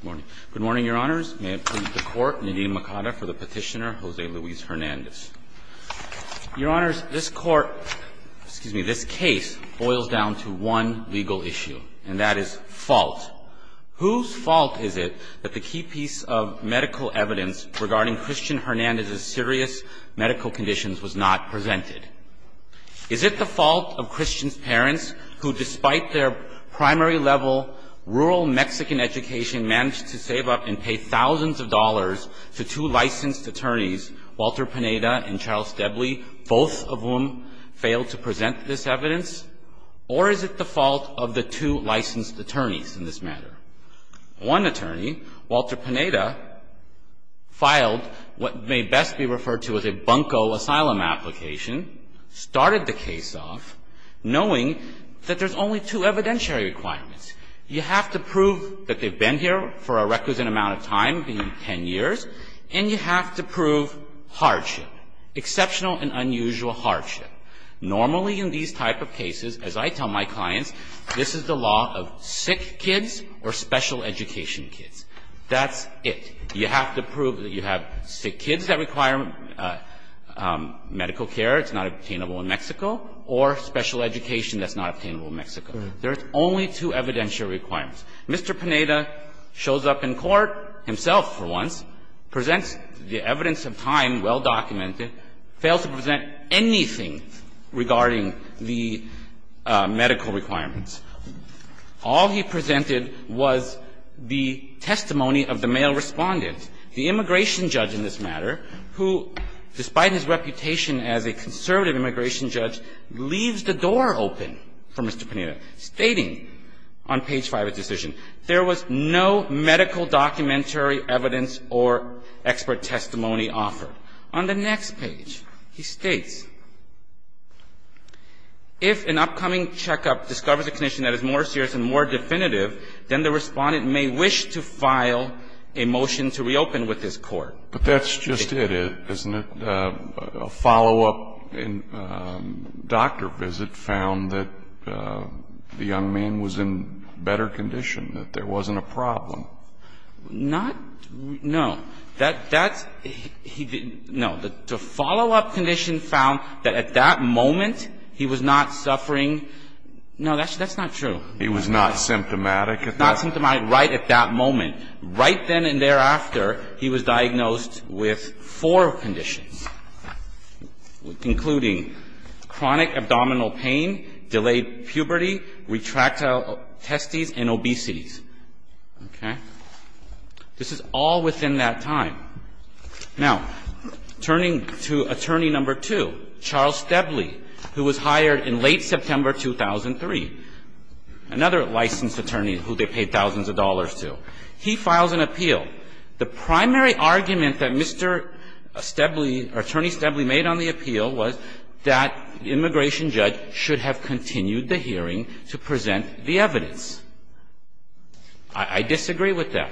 Good morning. Good morning, Your Honors. May it please the Court, Nadine Makada for the Petitioner, Jose Luis Hernandez. Your Honors, this Court, excuse me, this case boils down to one legal issue, and that is fault. Whose fault is it that the key piece of medical evidence regarding Christian Hernandez's serious medical conditions was not presented? Is it the fault of Christian's parents, who, despite their primary level rural Mexican education, managed to save up and pay thousands of dollars to two licensed attorneys, Walter Pineda and Charles Debly, both of whom failed to present this evidence? Or is it the fault of the two licensed attorneys in this matter? One attorney, Walter Pineda, filed what may best be referred to as a bunco asylum application, started the case off knowing that there's only two evidentiary requirements. You have to prove that they've been here for a requisite amount of time, being 10 years, and you have to prove hardship, exceptional and unusual hardship. Normally in these type of cases, as I tell my clients, this is the law of sick kids or special education kids. That's it. You have to prove that you have sick kids that require medical care that's not obtainable in Mexico or special education that's not obtainable in Mexico. There's only two evidentiary requirements. Mr. Pineda shows up in court himself, for once, presents the evidence of time, well-documented, fails to present anything regarding the medical requirements. All he presented was the testimony of the male respondent, the immigration judge in this matter, who, despite his reputation as a conservative immigration judge, leaves the door open for Mr. Pineda, stating on page 5 of his decision, there was no medical documentary evidence or expert testimony offered. On the next page, he states, if an upcoming checkup discovers a condition that is more serious and more definitive, then the respondent may wish to file a motion to reopen with this Court. But that's just it, isn't it? A follow-up doctor visit found that the young man was in better condition, that there wasn't a problem. Not no. That's he didn't no. The follow-up condition found that at that moment, he was not suffering. No, that's not true. He was not symptomatic at that moment. Not symptomatic right at that moment. Right then and thereafter, he was diagnosed with four conditions, including chronic abdominal pain, delayed puberty, retractile testes, and obesity. Okay? This is all within that time. Now, turning to Attorney No. 2, Charles Stebley, who was hired in late September 2003, another licensed attorney who they paid thousands of dollars to, he files an appeal. The primary argument that Mr. Stebley, or Attorney Stebley, made on the appeal was that the immigration judge should have continued the hearing to present the evidence. I disagree with that.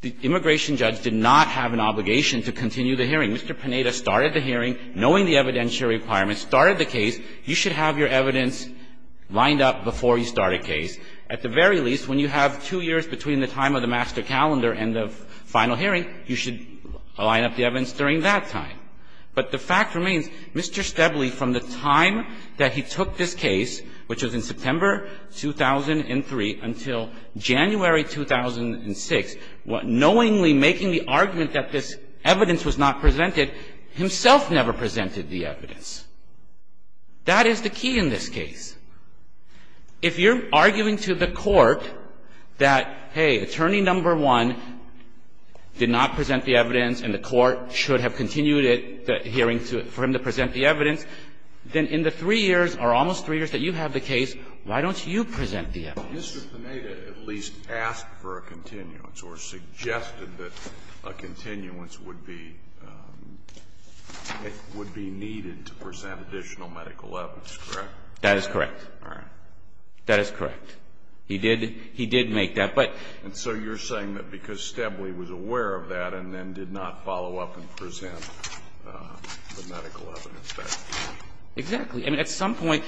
The immigration judge did not have an obligation to continue the hearing. Mr. Panetta started the hearing knowing the evidentiary requirements, started the case. You should have your evidence lined up before you start a case. At the very least, when you have two years between the time of the master calendar and the final hearing, you should line up the evidence during that time. But the fact remains, Mr. Stebley, from the time that he took this case, which was in September 2003 until January 2006, knowingly making the argument that this evidence was not presented, himself never presented the evidence. That is the key in this case. If you're arguing to the court that, hey, Attorney No. 1 did not present the evidence and the court should have continued it, the hearing for him to present the evidence, then in the three years or almost three years that you have the case, why don't you present the evidence? Alito, Mr. Panetta at least asked for a continuance or suggested that a continuance would be needed to present additional medical evidence, correct? That is correct. All right. That is correct. He did make that, but so you're saying that because Stebley was aware of that and then did not follow up and present the medical evidence back to you. Exactly. I mean, at some point,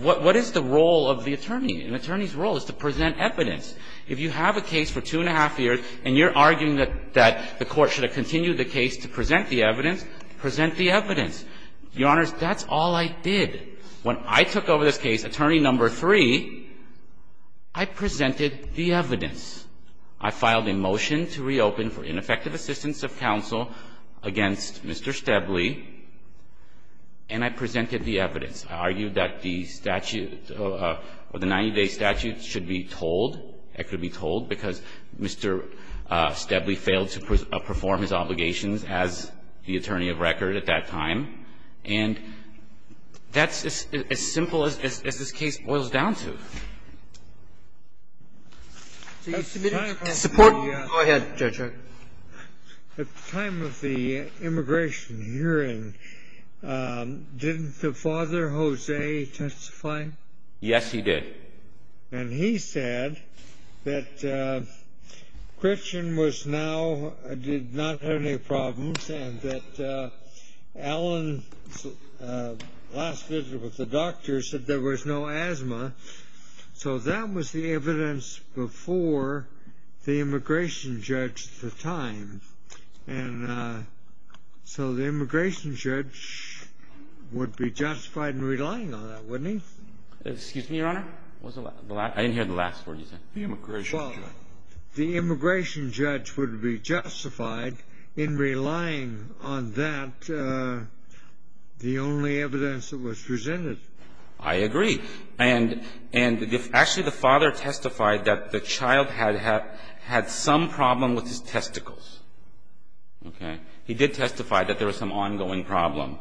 what is the role of the attorney? An attorney's role is to present evidence. If you have a case for two and a half years and you're arguing that the court should have continued the case to present the evidence, present the evidence. Your Honors, that's all I did. When I took over this case, Attorney No. 3, I presented the evidence. I filed a motion to reopen for ineffective assistance of counsel against Mr. Stebley, and I presented the evidence. I argued that the statute, or the 90-day statute should be told, it could be told, because Mr. Stebley failed to perform his obligations as the attorney of record at that time. And that's as simple as this case boils down to. At the time of the immigration hearing, didn't the father, Jose, testify? Yes, he did. And he said that Christian was now, did not have any problems, and that Alan's last visit with the doctor said there was no asthma. So that was the evidence before the immigration judge at the time. And so the immigration judge would be justified in relying on that, wouldn't he? Excuse me, Your Honor? I didn't hear the last word you said. The immigration judge would be justified in relying on that. And that's the only evidence that was presented. I agree. And actually, the father testified that the child had some problem with his testicles. Okay? He did testify that there was some ongoing problem,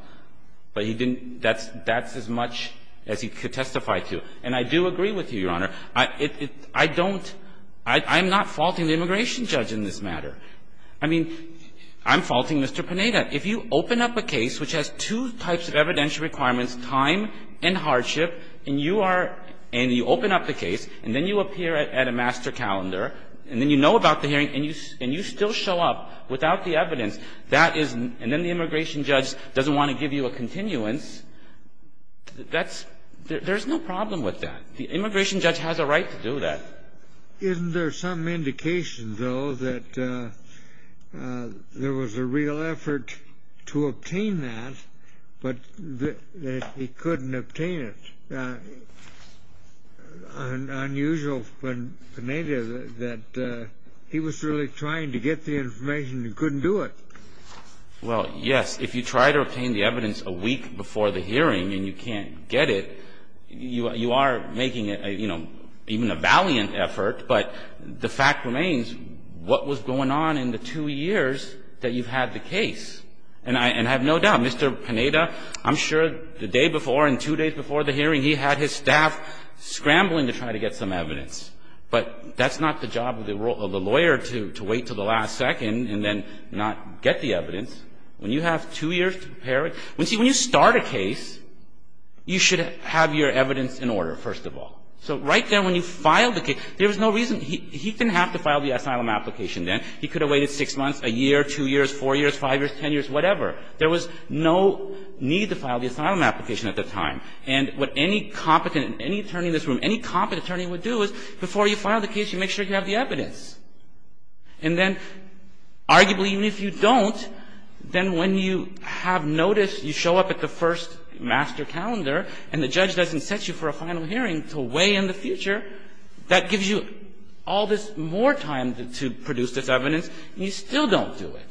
but he didn't – that's as much as he could testify to. And I do agree with you, Your Honor. I don't – I'm not faulting the immigration judge in this matter. I mean, I'm faulting Mr. Panetta. If you open up a case which has two types of evidential requirements, time and hardship, and you are – and you open up the case, and then you appear at a master calendar, and then you know about the hearing, and you still show up without the evidence, that is – and then the immigration judge doesn't want to give you a continuance, that's – there's no problem with that. The immigration judge has a right to do that. Isn't there some indication, though, that there was a real effort to obtain that, but that he couldn't obtain it? Unusual, Panetta, that he was really trying to get the information and couldn't do it. Well, yes. If you try to obtain the evidence a week before the hearing and you can't get it, you are making, you know, even a valiant effort, but the fact remains, what was going on in the two years that you've had the case? And I have no doubt, Mr. Panetta, I'm sure the day before and two days before the hearing, he had his staff scrambling to try to get some evidence. But that's not the job of the lawyer, to wait until the last second and then not get the evidence. When you have two years to prepare it – when you start a case, you should have your evidence in order, first of all. So right there when you file the case, there was no reason – he didn't have to file the asylum application then. He could have waited six months, a year, two years, four years, five years, ten years, whatever. There was no need to file the asylum application at the time. And what any competent – any attorney in this room, any competent attorney would do is, before you file the case, you make sure you have the evidence. And then, arguably, even if you don't, then when you have notice, you show up at the first master calendar and the judge doesn't set you for a final hearing until way in the future, that gives you all this more time to produce this evidence and you still don't do it.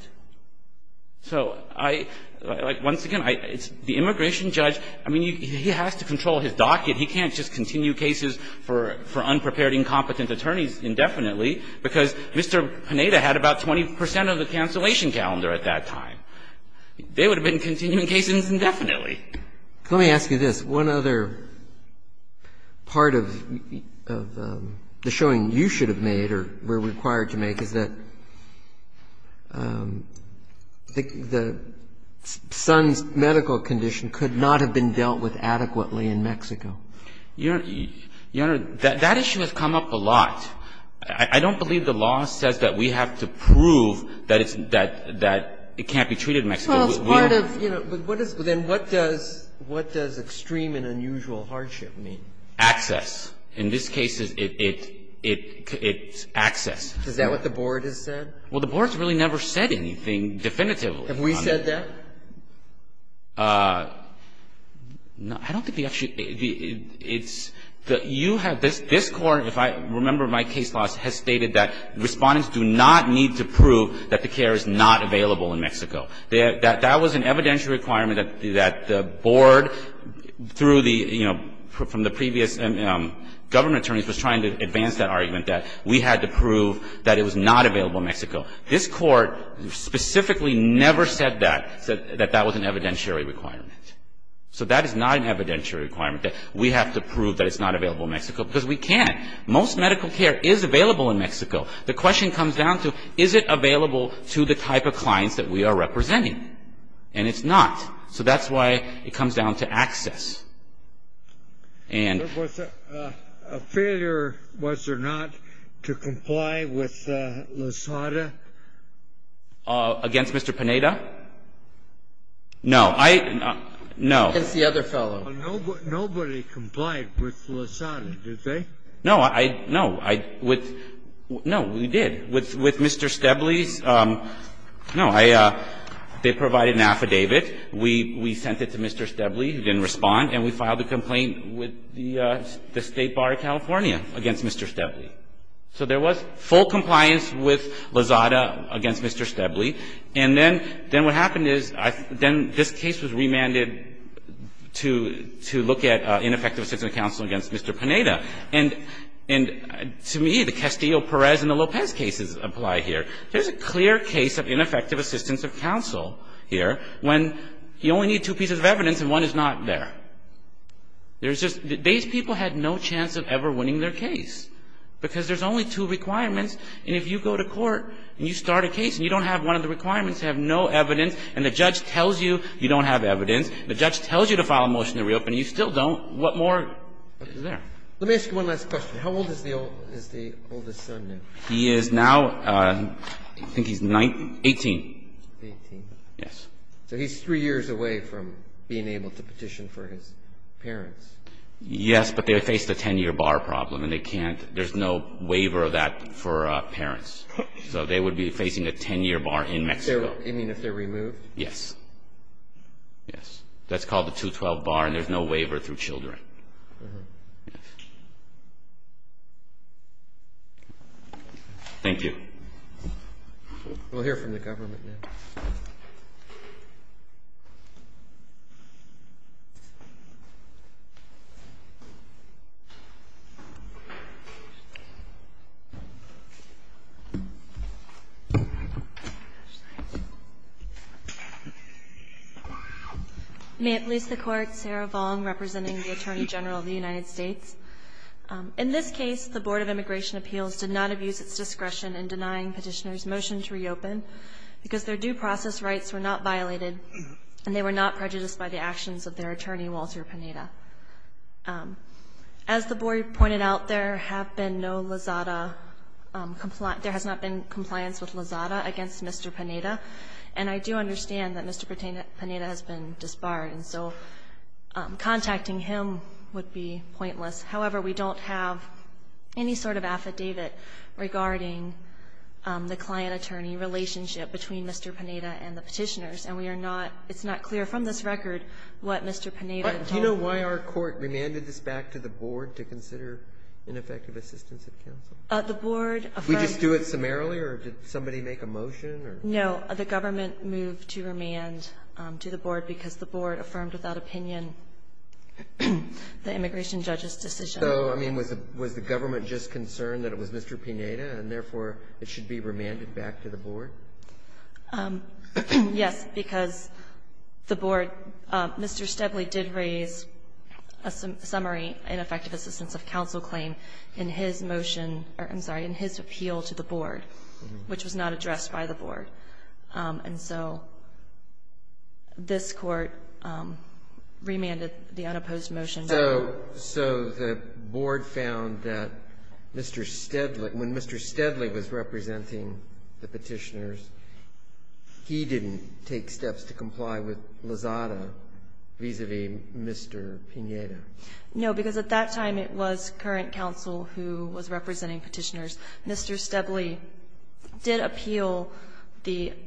So I – like, once again, it's the immigration judge. I mean, he has to control his docket. He can't just continue cases for – for unprepared, incompetent attorneys indefinitely, because Mr. Panetta had about 20 percent of the cancellation calendar at that time. They would have been continuing cases indefinitely. Let me ask you this. One other part of the showing you should have made or were required to make is that the son's medical condition could not have been dealt with adequately in Mexico. Your Honor, that issue has come up a lot. I don't believe the law says that we have to prove that it's – that it can't be treated in Mexico. We have to prove it. Ginsburg-Massey, Jr. Well, it's part of – you know, but what is – then what does – what does extreme and unusual hardship mean? Martinez-Sanchez, Jr. Access. In this case, it's access. Ginsburg-Massey, Jr. Is that what the Board has said? Martinez-Sanchez, Jr. Well, the Board's really never said anything definitively. Ginsburg-Massey, Jr. Have we said that? Martinez-Sanchez, Jr. I don't think the – it's – you have this Court. If I remember, my case law has stated that Respondents do not need to prove that the care is not available in Mexico. That was an evidentiary requirement that the Board, through the – you know, from the previous government attorneys, was trying to advance that argument, that we had to prove that it was not available in Mexico. This Court specifically never said that, that that was an evidentiary requirement. So that is not an evidentiary requirement, that we have to prove that it's not available in Mexico, because we can't. Most medical care is available in Mexico. The question comes down to, is it available to the type of clients that we are representing? And it's not. So that's why it comes down to access. And – Kennedy, Jr. Was there a failure, was there not, to comply with Lozada? Martinez-Sanchez, Jr. Against Mr. Pineda? I – no. Kennedy, Jr. Against the other fellow. Kennedy, Jr. Nobody complied with Lozada, did they? No, I – no, I – with – no, we did. With Mr. Stebley's – no, I – they provided an affidavit. We sent it to Mr. Stebley, who didn't respond, and we filed a complaint with the State Bar of California against Mr. Stebley. So there was full compliance with Lozada against Mr. Stebley. And then what happened is, then this case was remanded to look at ineffective assistance of counsel against Mr. Pineda. And to me, the Castillo-Perez and the Lopez cases apply here. There's a clear case of ineffective assistance of counsel here when you only need two pieces of evidence and one is not there. There's just – these people had no chance of ever winning their case because there's only two requirements. And if you go to court and you start a case and you don't have one of the requirements, you have no evidence, and the judge tells you you don't have evidence, the judge tells you to file a motion to reopen, and you still don't. What more is there? Let me ask you one last question. How old is the oldest son now? He is now – I think he's 19 – 18. Eighteen. Yes. So he's three years away from being able to petition for his parents. Yes, but they faced a 10-year bar problem, and they can't – there's no waiver of that for parents. So they would be facing a 10-year bar in Mexico. You mean if they're removed? Yes. Yes. That's called the two-year bar. Yes. waiver through children. Uh-huh. Thank you. We'll hear from the government now. Yes, ma'am. representing the Attorney General of the United States. In this case, the Board of Immigration Appeals did not abuse its discretion in denying petitioners' motion to reopen because their due process rights were not violated and they were not prejudiced by the actions of their attorney, Walter Pineda. As the board pointed out, there have been no LAZADA – there has not been compliance with LAZADA against Mr. Pineda, and I do understand that Mr. Pineda has been disbarred, and so contacting him would be pointless. However, we don't have any sort of affidavit regarding the client-attorney relationship between Mr. Pineda and the petitioners, and we are not – it's not clear from this record what Mr. Pineda told them. But do you know why our court remanded this back to the board to consider ineffective assistance of counsel? The board affirmed – Did we just do it summarily, or did somebody make a motion, or – No. The government moved to remand to the board because the board affirmed without opinion the immigration judge's decision. So, I mean, was the government just concerned that it was Mr. Pineda, and therefore it should be remanded back to the board? Yes, because the board – Mr. Steadley did raise a summary, an effective assistance of counsel claim in his motion – I'm sorry, in his appeal to the board, which was not addressed by the board. And so this court remanded the unopposed motion back. So the board found that Mr. Steadley – when Mr. Steadley was representing the petitioners, he didn't take steps to comply with Lozada vis-a-vis Mr. Pineda? No, because at that time it was current counsel who was representing petitioners. Mr. Steadley did appeal the –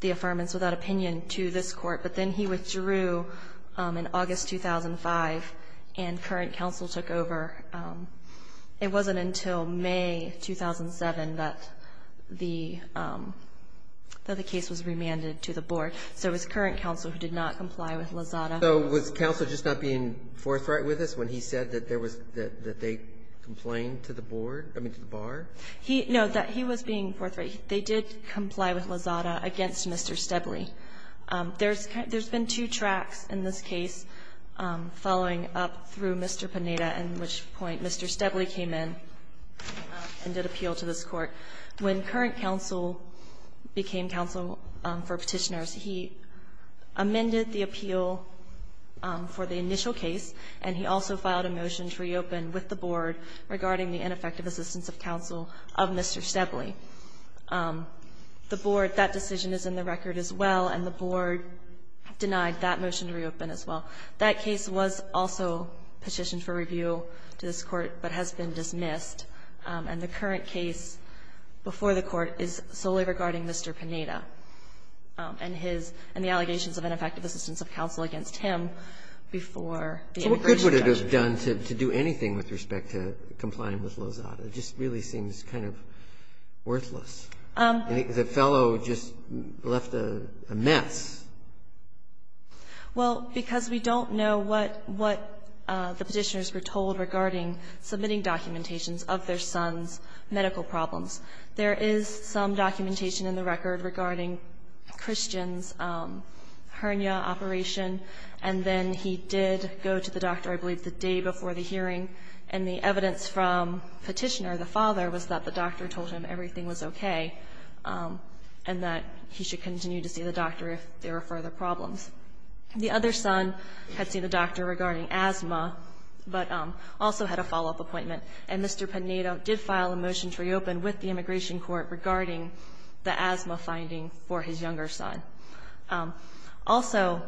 the affirmance without opinion to this court, but then he withdrew in August 2005, and current counsel took over. It wasn't until May 2007 that the – that the case was remanded to the board. So it was current counsel who did not comply with Lozada. So was counsel just not being forthright with us when he said that there was – that they complained to the board – I mean, to the bar? He – no, that he was being forthright. They did comply with Lozada against Mr. Steadley. There's – there's been two tracks in this case following up through Mr. Pineda, in which point Mr. Steadley came in and did appeal to this court. When current counsel became counsel for petitioners, he amended the appeal for the board regarding the ineffective assistance of counsel of Mr. Steadley. The board – that decision is in the record as well, and the board denied that motion to reopen as well. That case was also petitioned for review to this court, but has been dismissed. And the current case before the court is solely regarding Mr. Pineda and his – and the allegations of ineffective assistance of counsel against him before the immigration judge. Breyer, what could it have done to do anything with respect to complying with Lozada? It just really seems kind of worthless. The fellow just left a mess. Well, because we don't know what – what the petitioners were told regarding submitting documentations of their son's medical problems. There is some documentation in the record regarding Christian's hernia operation, and then he did go to the doctor, I believe, the day before the hearing, and the evidence from Petitioner, the father, was that the doctor told him everything was okay and that he should continue to see the doctor if there were further problems. The other son had seen a doctor regarding asthma, but also had a follow-up appointment, and Mr. Pineda did file a motion to reopen with the immigration court regarding the asthma finding for his younger son. Also,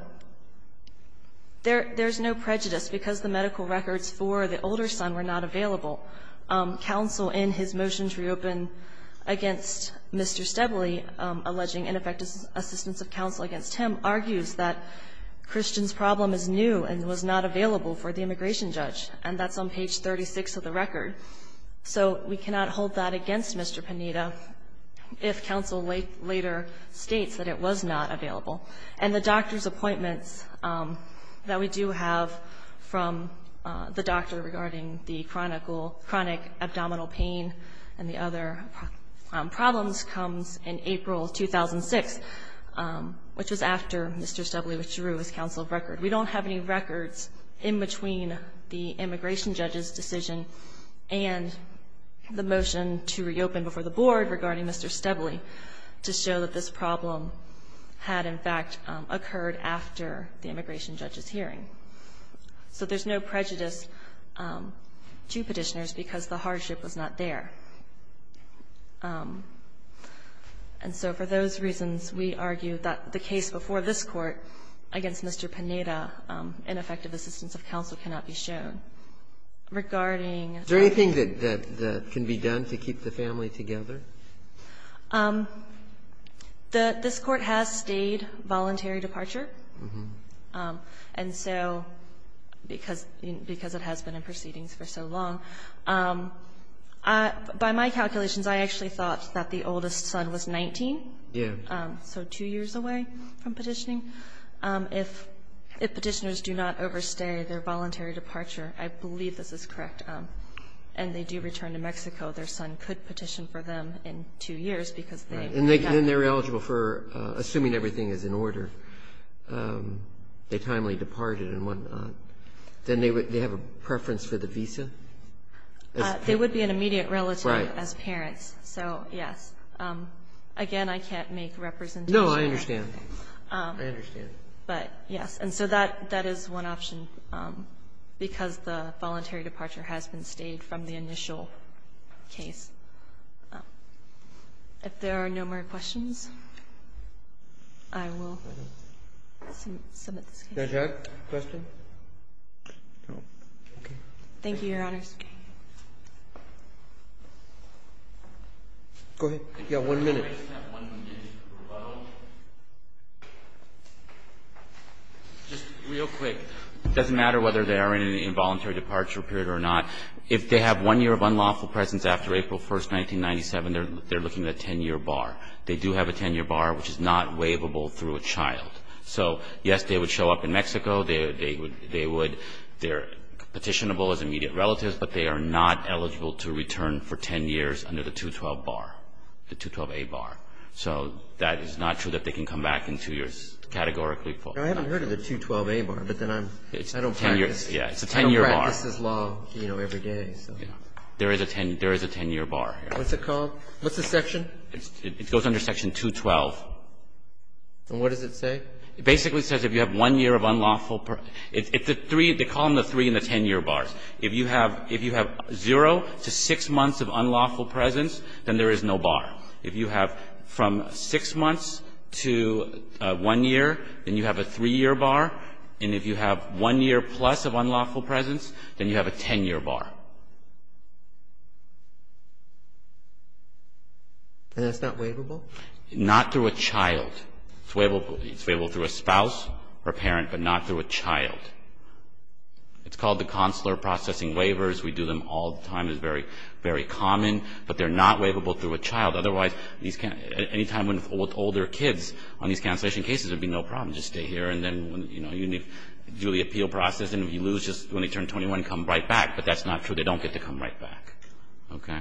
there's no prejudice. Because the medical records for the older son were not available, counsel in his motion to reopen against Mr. Steadley, alleging ineffective assistance of counsel against him, argues that Christian's problem is new and was not available for the immigration judge, and that's on page 36 of the record. So we cannot hold that against Mr. Pineda if counsel later states that it was not available. And the doctor's appointments that we do have from the doctor regarding the chronic abdominal pain and the other problems comes in April 2006, which was after Mr. Steadley withdrew his counsel record. We don't have any records in between the immigration judge's decision and the motion to reopen before the board regarding Mr. Steadley to show that this problem had, in fact, occurred after the immigration judge's hearing. So there's no prejudice to petitioners because the hardship was not there. And so for those reasons, we argue that the case before this court against Mr. Pineda, ineffective assistance of counsel, cannot be shown. Regarding the – Is there anything that can be done to keep the family together? This court has stayed voluntary departure. And so because it has been in proceedings for so long. By my calculations, I actually thought that the oldest son was 19. Yeah. So two years away from petitioning. If petitioners do not overstay their voluntary departure, I believe this is correct, and they do return to Mexico, their son could petition for them in two years because they have to. And they're eligible for – assuming everything is in order. They timely departed and whatnot. Then they have a preference for the visa. They would be an immediate relative as parents. So, yes. Again, I can't make representations. No, I understand. I understand. But, yes. And so that is one option because the voluntary departure has been stayed from the initial case. If there are no more questions, I will submit this case. Judge Eck, question? Thank you, Your Honors. Go ahead. You have one minute. Can I just have one minute to promote? Just real quick. It doesn't matter whether they are in an involuntary departure period or not. If they have one year of unlawful presence after April 1, 1997, they're looking at a 10-year bar. They do have a 10-year bar, which is not waivable through a child. So, yes, they would show up in Mexico. They're petitionable as immediate relatives, but they are not eligible to return for 10 years under the 212 bar, the 212A bar. So, that is not true that they can come back in two years categorically. I haven't heard of the 212A bar, but then I don't practice this law every day. There is a 10-year bar. What's it called? What's the section? It goes under Section 212. And what does it say? It basically says if you have one year of unlawful per – it's the three – they call them the three and the 10-year bars. If you have zero to six months of unlawful presence, then there is no bar. If you have from six months to one year, then you have a three-year bar. And if you have one year plus of unlawful presence, then you have a 10-year bar. And that's not waivable? Not through a child. It's waivable through a spouse or a parent, but not through a child. It's called the consular processing waivers. We do them all the time. It's very, very common. But they're not waivable through a child. Otherwise, these can't – anytime with older kids on these cancellation cases, there would be no problem. Just stay here, and then, you know, you need to do the appeal process, and if you lose just when they turn 21, come right back. But that's not true. They don't get to come right back. Okay?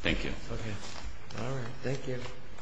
Thank you. Okay. All right. Thank you.